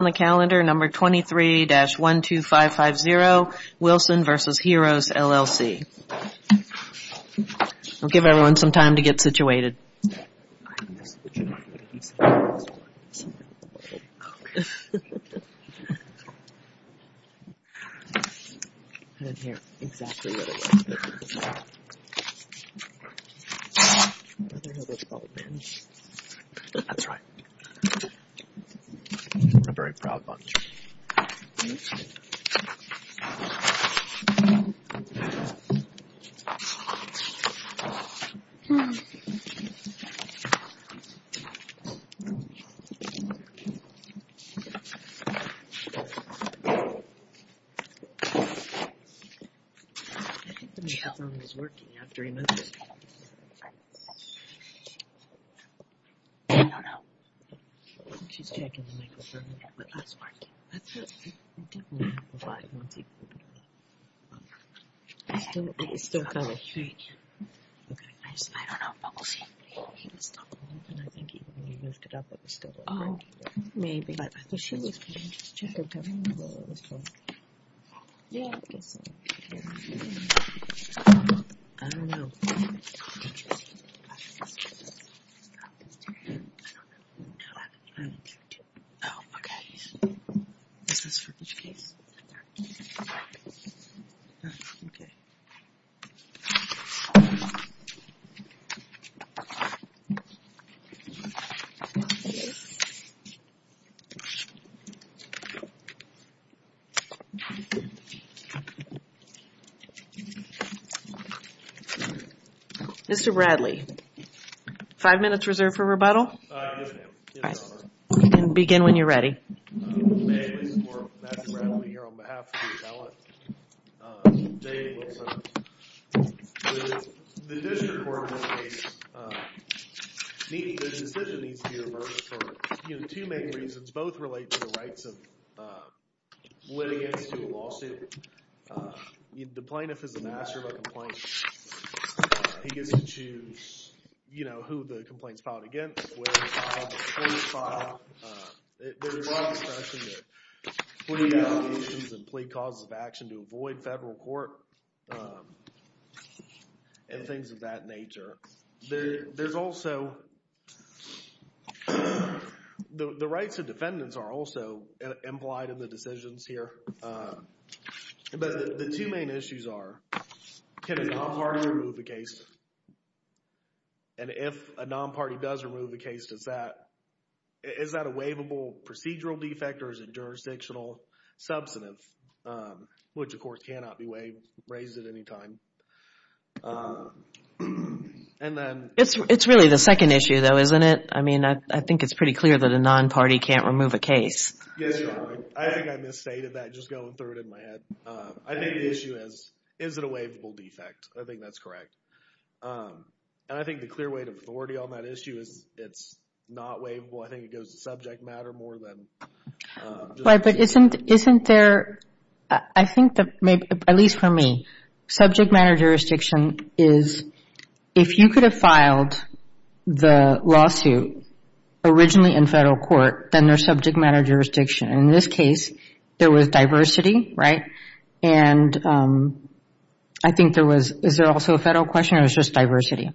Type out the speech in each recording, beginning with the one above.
23-12550, Wilson v. Hearos, LLC 23-12550, Wilson v. Hearos, LLC 23-12550, Wilson v. Hearos, LLC This is for each case. Mr. Bradley, five minutes reserved for rebuttal? Five minutes. You can begin when you're ready. There's a broad discussion that plea allegations and plea causes of action to avoid federal court and things of that nature. There's also, the rights of defendants are also implied in the decisions here. But the two main issues are, can a non-party remove a case? And if a non-party does remove a case, is that a waivable procedural defect or is it jurisdictional substantive? Which of course cannot be raised at any time. It's really the second issue though, isn't it? I mean, I think it's pretty clear that a non-party can't remove a case. Yes, Your Honor. I think I misstated that just going through it in my head. I think the issue is, is it a waivable defect? I think that's correct. And I think the clear weight of authority on that issue is it's not waivable. I think it goes to subject matter more than... But isn't there, I think that maybe, at least for me, subject matter jurisdiction is, if you could have filed the lawsuit originally in federal court, then there's subject matter jurisdiction. And in this case, there was diversity, right? And I think there was, is there also a federal question or it was just diversity?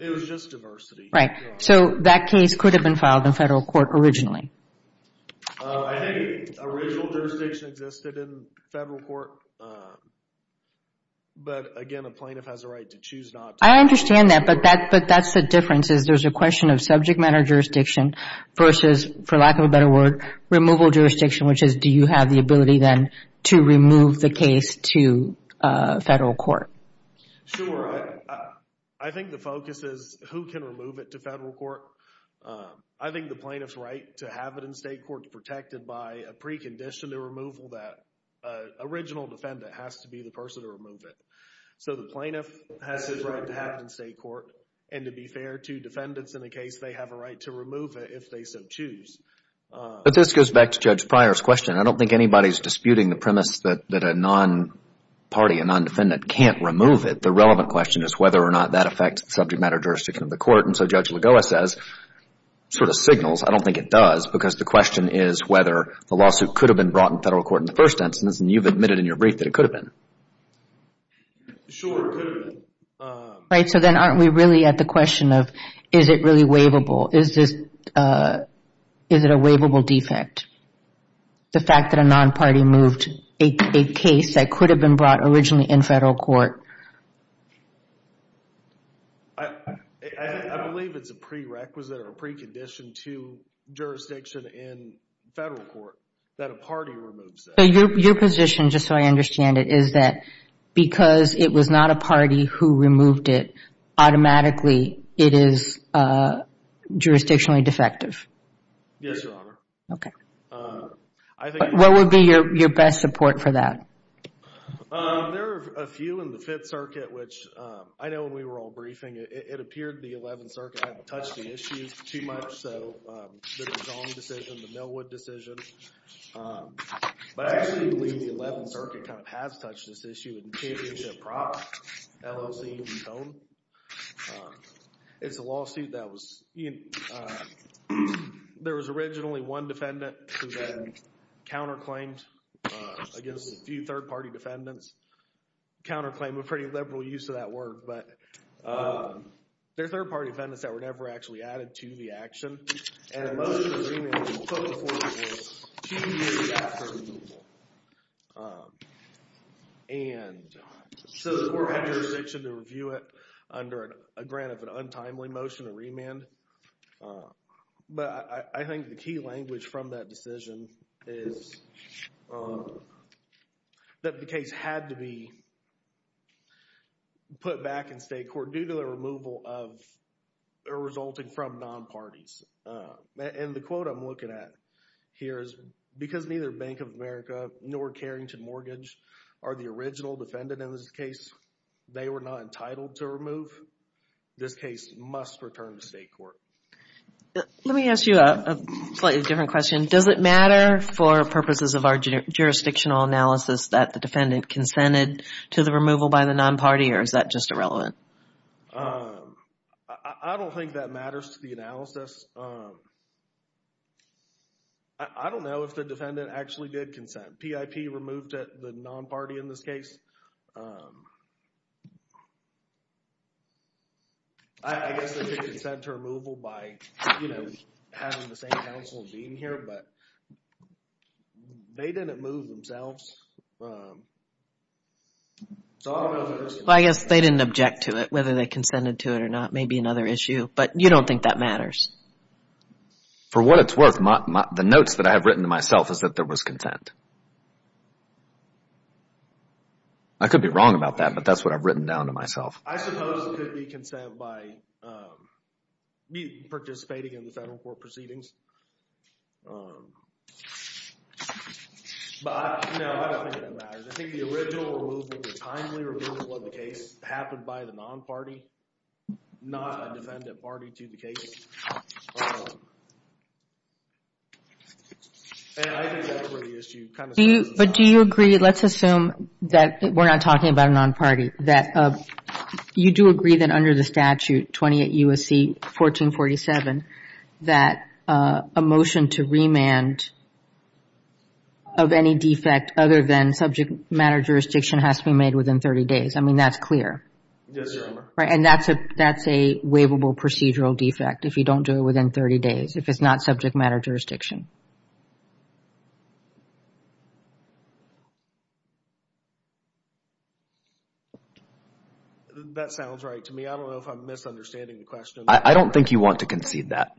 It was just diversity. Right. So that case could have been filed in federal court originally. I think original jurisdiction existed in federal court. But, again, a plaintiff has a right to choose not to. I understand that, but that's the difference is there's a question of subject matter jurisdiction versus, for lack of a better word, removal jurisdiction, which is do you have the ability then to remove the case to federal court? Sure. I think the focus is who can remove it to federal court. I think the plaintiff's right to have it in state court is protected by a precondition to removal that original defendant has to be the person to remove it. So the plaintiff has his right to have it in state court. And to be fair to defendants in the case, they have a right to remove it if they so choose. But this goes back to Judge Pryor's question. I don't think anybody's disputing the premise that a non-party, a non-defendant can't remove it. The relevant question is whether or not that affects subject matter jurisdiction of the court. And so Judge Lagoa says, sort of signals, I don't think it does because the question is whether the lawsuit could have been brought in federal court in the first instance, and you've admitted in your brief that it could have been. Sure, it could have been. Right, so then aren't we really at the question of is it really waivable? Is it a waivable defect? The fact that a non-party moved a case that could have been brought originally in federal court. I believe it's a prerequisite or a precondition to jurisdiction in federal court that a party removes it. So your position, just so I understand it, is that because it was not a party who removed it, automatically it is jurisdictionally defective? Yes, Your Honor. Okay. What would be your best support for that? There are a few in the Fifth Circuit, which I know when we were all briefing, it appeared the Eleventh Circuit hadn't touched the issues too much, so the DeJong decision, the Millwood decision. But I actually believe the Eleventh Circuit kind of has touched this issue in Championship Prop, LOC, and Tone. It's a lawsuit that was, you know, there was originally one defendant who then counterclaimed against a few third-party defendants. Counterclaim, a pretty liberal use of that word, but they're third-party defendants that were never actually added to the action. And a motion to remand was put before the court two years after the removal. And so the court had jurisdiction to review it under a grant of an untimely motion to remand. But I think the key language from that decision is that the case had to be put back in state court due to the removal of resulting from non-parties. And the quote I'm looking at here is, because neither Bank of America nor Carrington Mortgage are the original defendant in this case, they were not entitled to remove, this case must return to state court. Let me ask you a slightly different question. Does it matter for purposes of our jurisdictional analysis that the defendant consented to the removal by the non-party or is that just irrelevant? I don't think that matters to the analysis. I don't know if the defendant actually did consent. PIP removed the non-party in this case. I guess they did consent to removal by, you know, having the same counsel and being here. But they didn't move themselves. I guess they didn't object to it, whether they consented to it or not. Maybe another issue. But you don't think that matters. For what it's worth, the notes that I have written to myself is that there was consent. I could be wrong about that, but that's what I've written down to myself. I suppose it could be consent by participating in the federal court proceedings. But, you know, I don't think that matters. I think the original removal, the timely removal of the case happened by the non-party, not a defendant party to the case. And I think that's where the issue kind of stands. But do you agree, let's assume that we're not talking about a non-party, that you do agree that under the statute, 28 U.S.C. 1447, that a motion to remand of any defect other than subject matter jurisdiction has to be made within 30 days. I mean, that's clear. Yes, Your Honor. And that's a waivable procedural defect if you don't do it within 30 days, if it's not subject matter jurisdiction. That sounds right to me. I don't know if I'm misunderstanding the question. I don't think you want to concede that.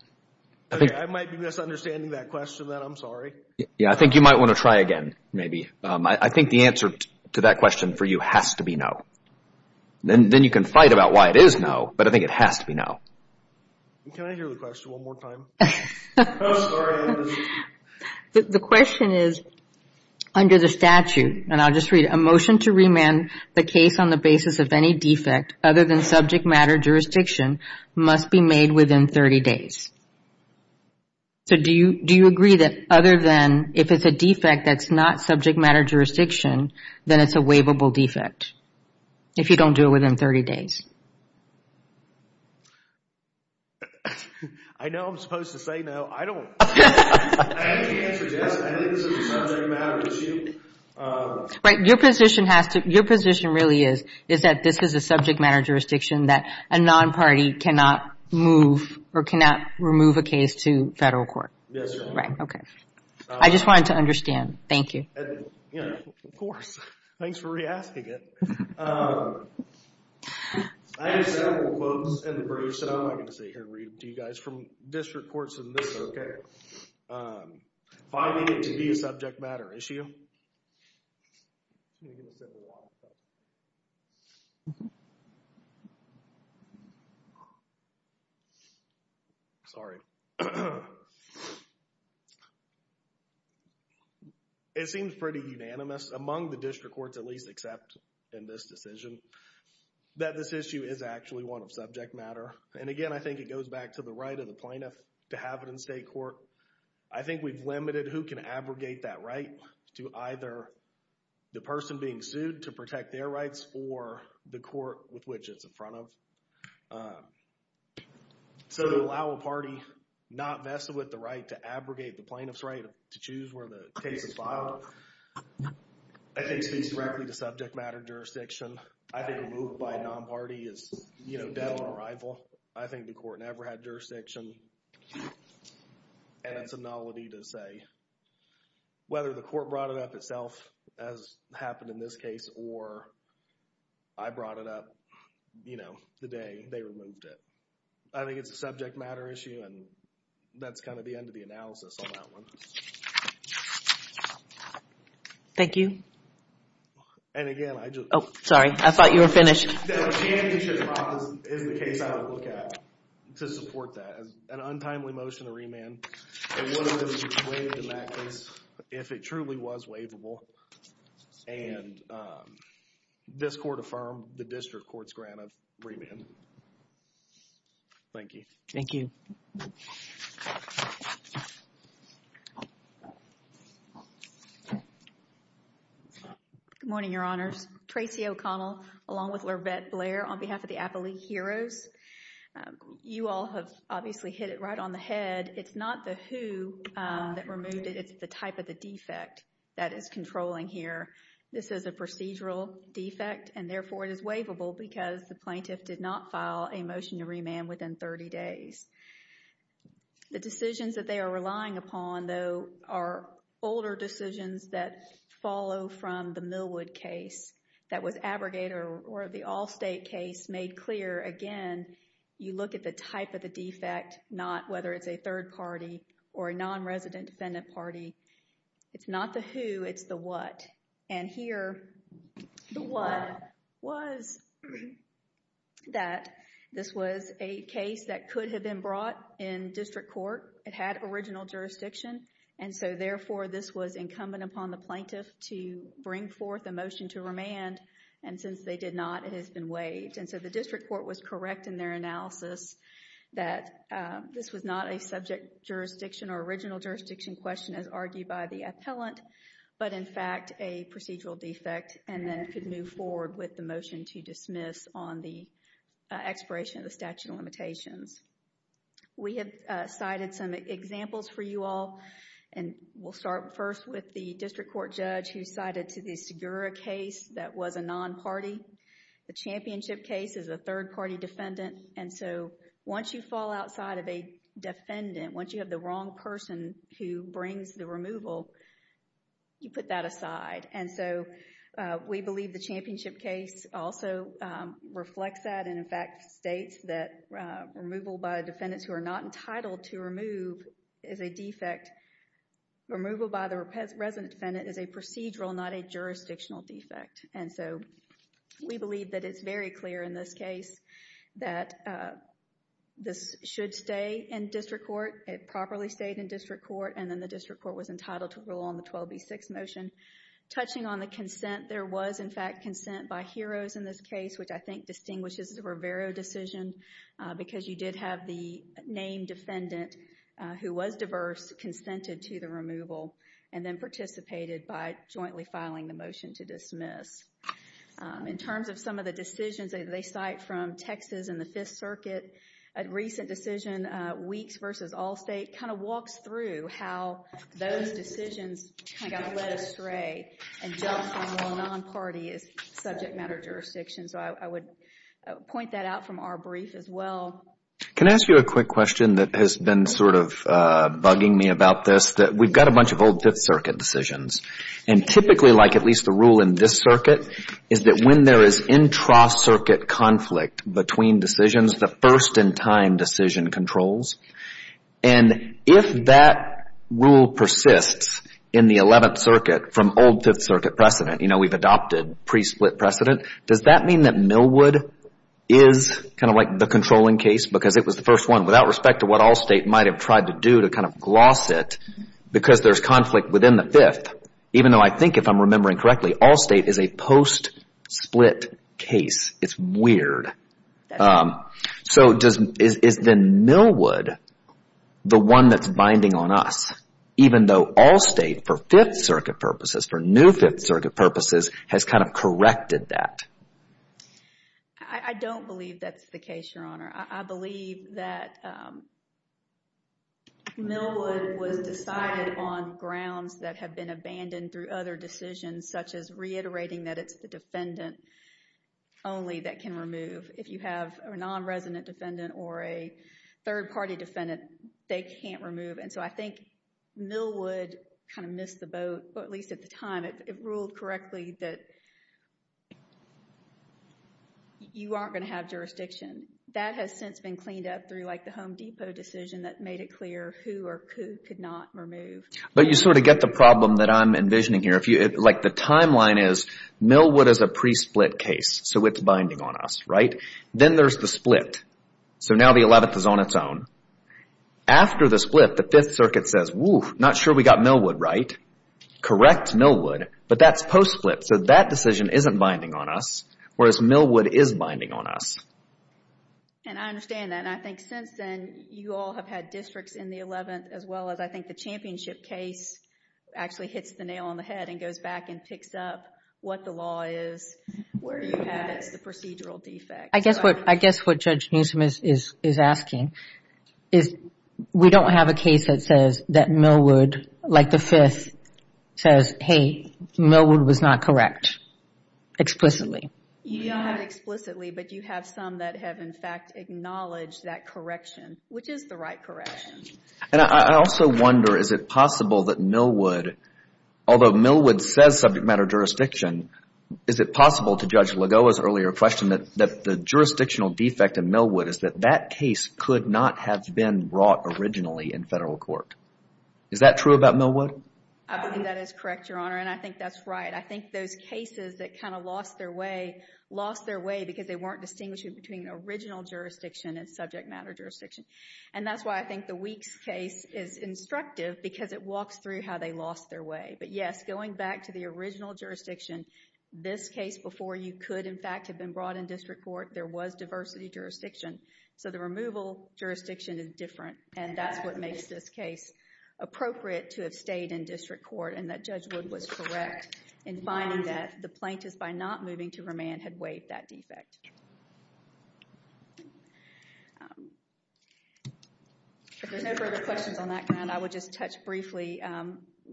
I might be misunderstanding that question, then. I'm sorry. Yeah, I think you might want to try again, maybe. I think the answer to that question for you has to be no. Then you can fight about why it is no, but I think it has to be no. Can I hear the question one more time? I'm sorry. The question is, under the statute, and I'll just read, a motion to remand the case on the basis of any defect other than subject matter jurisdiction must be made within 30 days. So do you agree that other than, if it's a defect that's not subject matter jurisdiction, then it's a waivable defect if you don't do it within 30 days? I know I'm supposed to say no. I don't. I think the answer is yes. I think it's subject matter. It's you. Right. Your position has to, your position really is, is that this is a subject matter jurisdiction that a non-party cannot move or cannot remove a case to federal court. Yes, Your Honor. Right. Okay. I just wanted to understand. Thank you. Of course. Thanks for re-asking it. I have several quotes in the brief, so I'm going to sit here and read them to you guys. From district courts and this, okay. Finding it to be a subject matter issue. Okay. Sorry. It seems pretty unanimous among the district courts, at least except in this decision, that this issue is actually one of subject matter. And again, I think it goes back to the right of the plaintiff to have it in state court. I think we've limited who can abrogate that right to either the person being sued to protect their rights or the court with which it's in front of. So to allow a party not vested with the right to abrogate the plaintiff's right to choose where the case is filed, I think speaks directly to subject matter jurisdiction. I think a move by a non-party is, you know, dead on arrival. I think the court never had jurisdiction. And it's a nullity to say whether the court brought it up itself, as happened in this case, or I brought it up, you know, the day they removed it. I think it's a subject matter issue, and that's kind of the end of the analysis on that one. Thank you. And again, I just... Oh, sorry. I thought you were finished. ...is the case I would look at to support that. An untimely motion to remand. It wouldn't have been waived in that case if it truly was waivable. And this court affirmed the district court's grant of remand. Thank you. Thank you. Good morning, Your Honors. Tracey O'Connell, along with Lurvette Blair, on behalf of the Appalachian Heroes. You all have obviously hit it right on the head. It's not the who that removed it. It's the type of the defect that is controlling here. This is a procedural defect, and therefore it is waivable because the plaintiff did not file a motion to remand within 30 days. The decisions that they are relying upon, though, are older decisions that follow from the Millwood case that was abrogated or the Allstate case made clear. Again, you look at the type of the defect, not whether it's a third party or a nonresident defendant party. It's not the who, it's the what. And here, the what was that. This was a case that could have been brought in district court. It had original jurisdiction, and so, therefore, this was incumbent upon the plaintiff to bring forth a motion to remand. And since they did not, it has been waived. And so, the district court was correct in their analysis that this was not a subject jurisdiction or original jurisdiction question as argued by the appellant, but in fact, a procedural defect and then could move forward with the motion to dismiss on the expiration of the statute of limitations. We have cited some examples for you all. And we'll start first with the district court judge who cited to the Segura case that was a non-party. The Championship case is a third party defendant. And so, once you fall outside of a defendant, once you have the wrong person who brings the removal, you put that aside. And so, we believe the Championship case also reflects that and, in fact, states that removal by defendants who are not entitled to remove is a defect. Removal by the resident defendant is a procedural, not a jurisdictional defect. And so, we believe that it's very clear in this case that this should stay in district court. It properly stayed in district court, and then the district court was entitled to rule on the 12B6 motion. Touching on the consent, there was, in fact, consent by HEROES in this case, which I think distinguishes the Rivero decision because you did have the named defendant who was diverse consented to the removal and then participated by jointly filing the motion to dismiss. In terms of some of the decisions that they cite from Texas and the Fifth Circuit, a recent decision, Weeks v. Allstate, kind of walks through how those decisions kind of got led astray and jumps on what a non-party is subject matter jurisdiction. So, I would point that out from our brief as well. Can I ask you a quick question that has been sort of bugging me about this? We've got a bunch of old Fifth Circuit decisions, and typically, like at least the rule in this circuit, is that when there is intra-circuit conflict between decisions, the first-in-time decision controls. And if that rule persists in the Eleventh Circuit from old Fifth Circuit precedent, you know, we've adopted pre-split precedent, does that mean that Millwood is kind of like the controlling case because it was the first one without respect to what Allstate might have tried to do to kind of gloss it because there's conflict within the Fifth, even though I think if I'm remembering correctly, Allstate is a post-split case. It's weird. So, is then Millwood the one that's binding on us, even though Allstate, for Fifth Circuit purposes, for new Fifth Circuit purposes, has kind of corrected that? I don't believe that's the case, Your Honor. I believe that Millwood was decided on grounds that have been abandoned through other decisions, such as reiterating that it's the defendant only that can remove. If you have a non-resident defendant or a third-party defendant, they can't remove. And so I think Millwood kind of missed the boat, at least at the time. It ruled correctly that you aren't going to have jurisdiction. That has since been cleaned up through like the Home Depot decision that made it clear who or who could not remove. But you sort of get the problem that I'm envisioning here. Like the timeline is Millwood is a pre-split case, so it's binding on us, right? Then there's the split. So now the 11th is on its own. After the split, the Fifth Circuit says, whew, not sure we got Millwood right. Correct, Millwood, but that's post-split. So that decision isn't binding on us, whereas Millwood is binding on us. And I understand that. And I think since then you all have had districts in the 11th as well as I think the championship case actually hits the nail on the head and goes back and picks up what the law is, where you have it as the procedural defect. I guess what Judge Newsom is asking is we don't have a case that says that Millwood, like the Fifth, says, hey, Millwood was not correct explicitly. You don't have it explicitly, but you have some that have in fact acknowledged that correction, which is the right correction. And I also wonder, is it possible that Millwood, although Millwood says subject matter jurisdiction, is it possible to judge Lagoa's earlier question that the jurisdictional defect in Millwood is that that case could not have been brought originally in federal court? Is that true about Millwood? I think that is correct, Your Honor, and I think that's right. I think those cases that kind of lost their way, lost their way because they weren't distinguishing between original jurisdiction and subject matter jurisdiction. And that's why I think the Weeks case is instructive because it walks through how they lost their way. But yes, going back to the original jurisdiction, this case before you could in fact have been brought in district court, there was diversity jurisdiction. So the removal jurisdiction is different, and that's what makes this case appropriate to have stayed in district court and that Judge Wood was correct in finding that the plaintiff, by not moving to remand, had waived that defect. If there's no further questions on that kind, I would just touch briefly.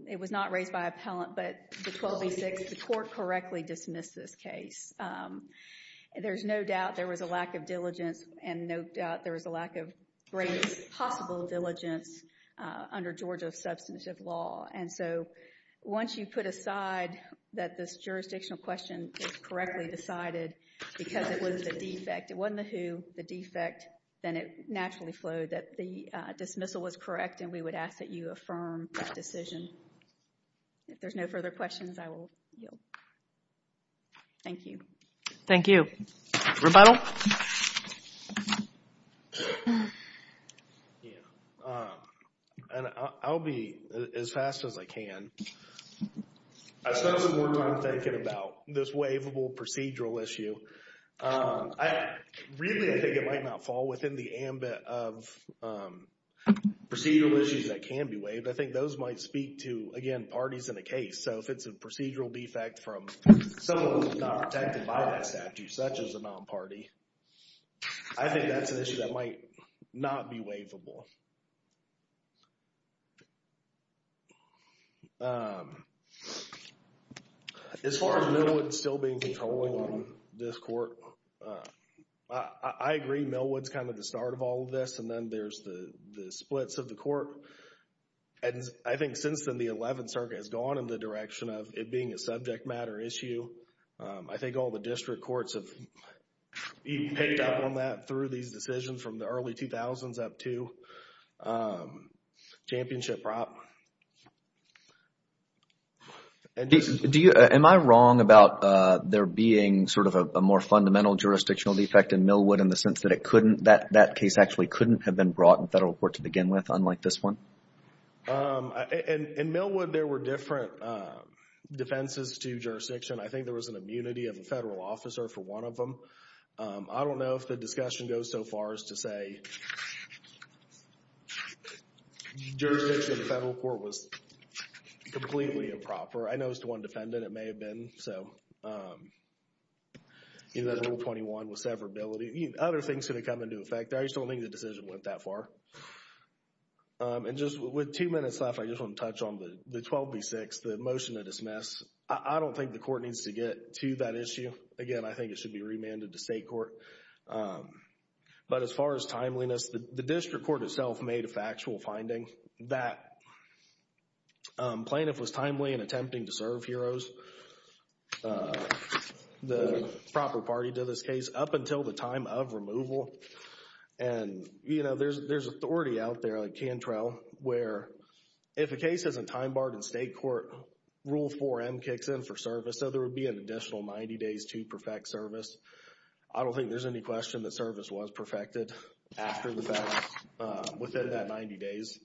It was not raised by appellant, but the 12B6, the court correctly dismissed this case. There's no doubt there was a lack of diligence and no doubt there was a lack of great possible diligence under Georgia's substantive law. And so once you put aside that this jurisdictional question is correctly decided because it was a defect, it wasn't the who, the defect, then it naturally flowed that the dismissal was correct and we would ask that you affirm that decision. If there's no further questions, I will yield. Thank you. Thank you. Rebuttal? I'll be as fast as I can. I spent some more time thinking about this waivable procedural issue. Really, I think it might not fall within the ambit of procedural issues that can be waived. I think those might speak to, again, parties in a case. So if it's a procedural defect from someone who's not protected by that statute, such as a non-party, I think that's an issue that might not be waivable. As far as Millwood still being controlled on this court, I agree Millwood's kind of the start of all of this and then there's the splits of the court. And I think since then the 11th Circuit has gone in the direction of it being a subject matter issue. I think all the district courts have even picked up on that through these decisions from the early 2000s up to championship prop. Am I wrong about there being sort of a more fundamental jurisdictional defect in Millwood in the sense that it couldn't, that case actually couldn't have been brought in federal court to begin with, unlike this one? In Millwood, there were different defenses to jurisdiction. I think there was an immunity of a federal officer for one of them. I don't know if the discussion goes so far as to say jurisdiction in federal court was completely improper. I know it's the one defendant, it may have been. Rule 21 was severability. Other things could have come into effect. I just don't think the decision went that far. And just with two minutes left, I just want to touch on the 12B6, the motion to dismiss. I don't think the court needs to get to that issue. Again, I think it should be remanded to state court. But as far as timeliness, the district court itself made a factual finding that plaintiff was timely in attempting to serve heroes, the proper party to this case, up until the time of removal. And, you know, there's authority out there, like Cantrell, where if a case isn't time barred in state court, Rule 4M kicks in for service, so there would be an additional 90 days to perfect service. I don't think there's any question that service was perfected after the fact, within that 90 days.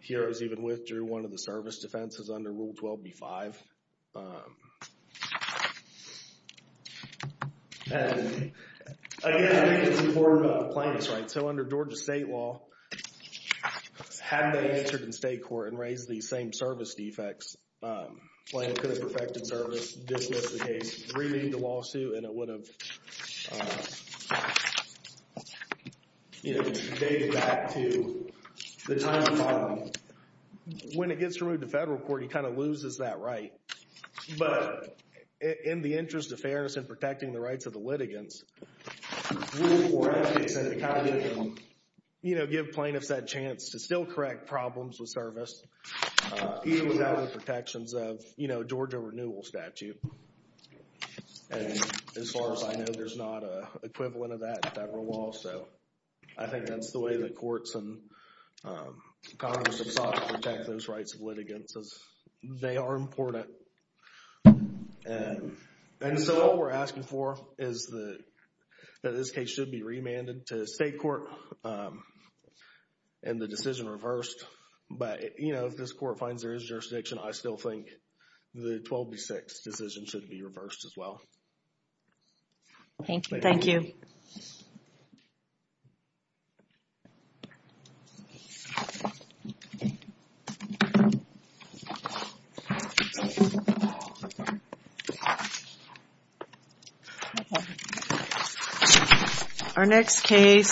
Heroes even withdrew one of the service defenses under Rule 12B5. And, again, I think it's important about the plaintiffs, right? So under Georgia state law, had they entered in state court and raised these same service defects, plaintiff could have perfected service, dismissed the case, remanded the lawsuit, and it would have dated back to the time of filing. When it gets removed to federal court, he kind of loses that right. But in the interest of fairness and protecting the rights of the litigants, Rule 4M kicks in to kind of give them, you know, give plaintiffs that chance to still correct problems with service, even without the protections of, you know, Georgia renewal statute. And as far as I know, there's not an equivalent of that at that rule also. I think that's the way that courts and Congress have sought to protect those rights of litigants. They are important. And so what we're asking for is that this case should be remanded to state court and the decision reversed. But, you know, if this court finds there is jurisdiction, I still think the 12B6 decision should be reversed as well. Thank you. Thank you. Our next case.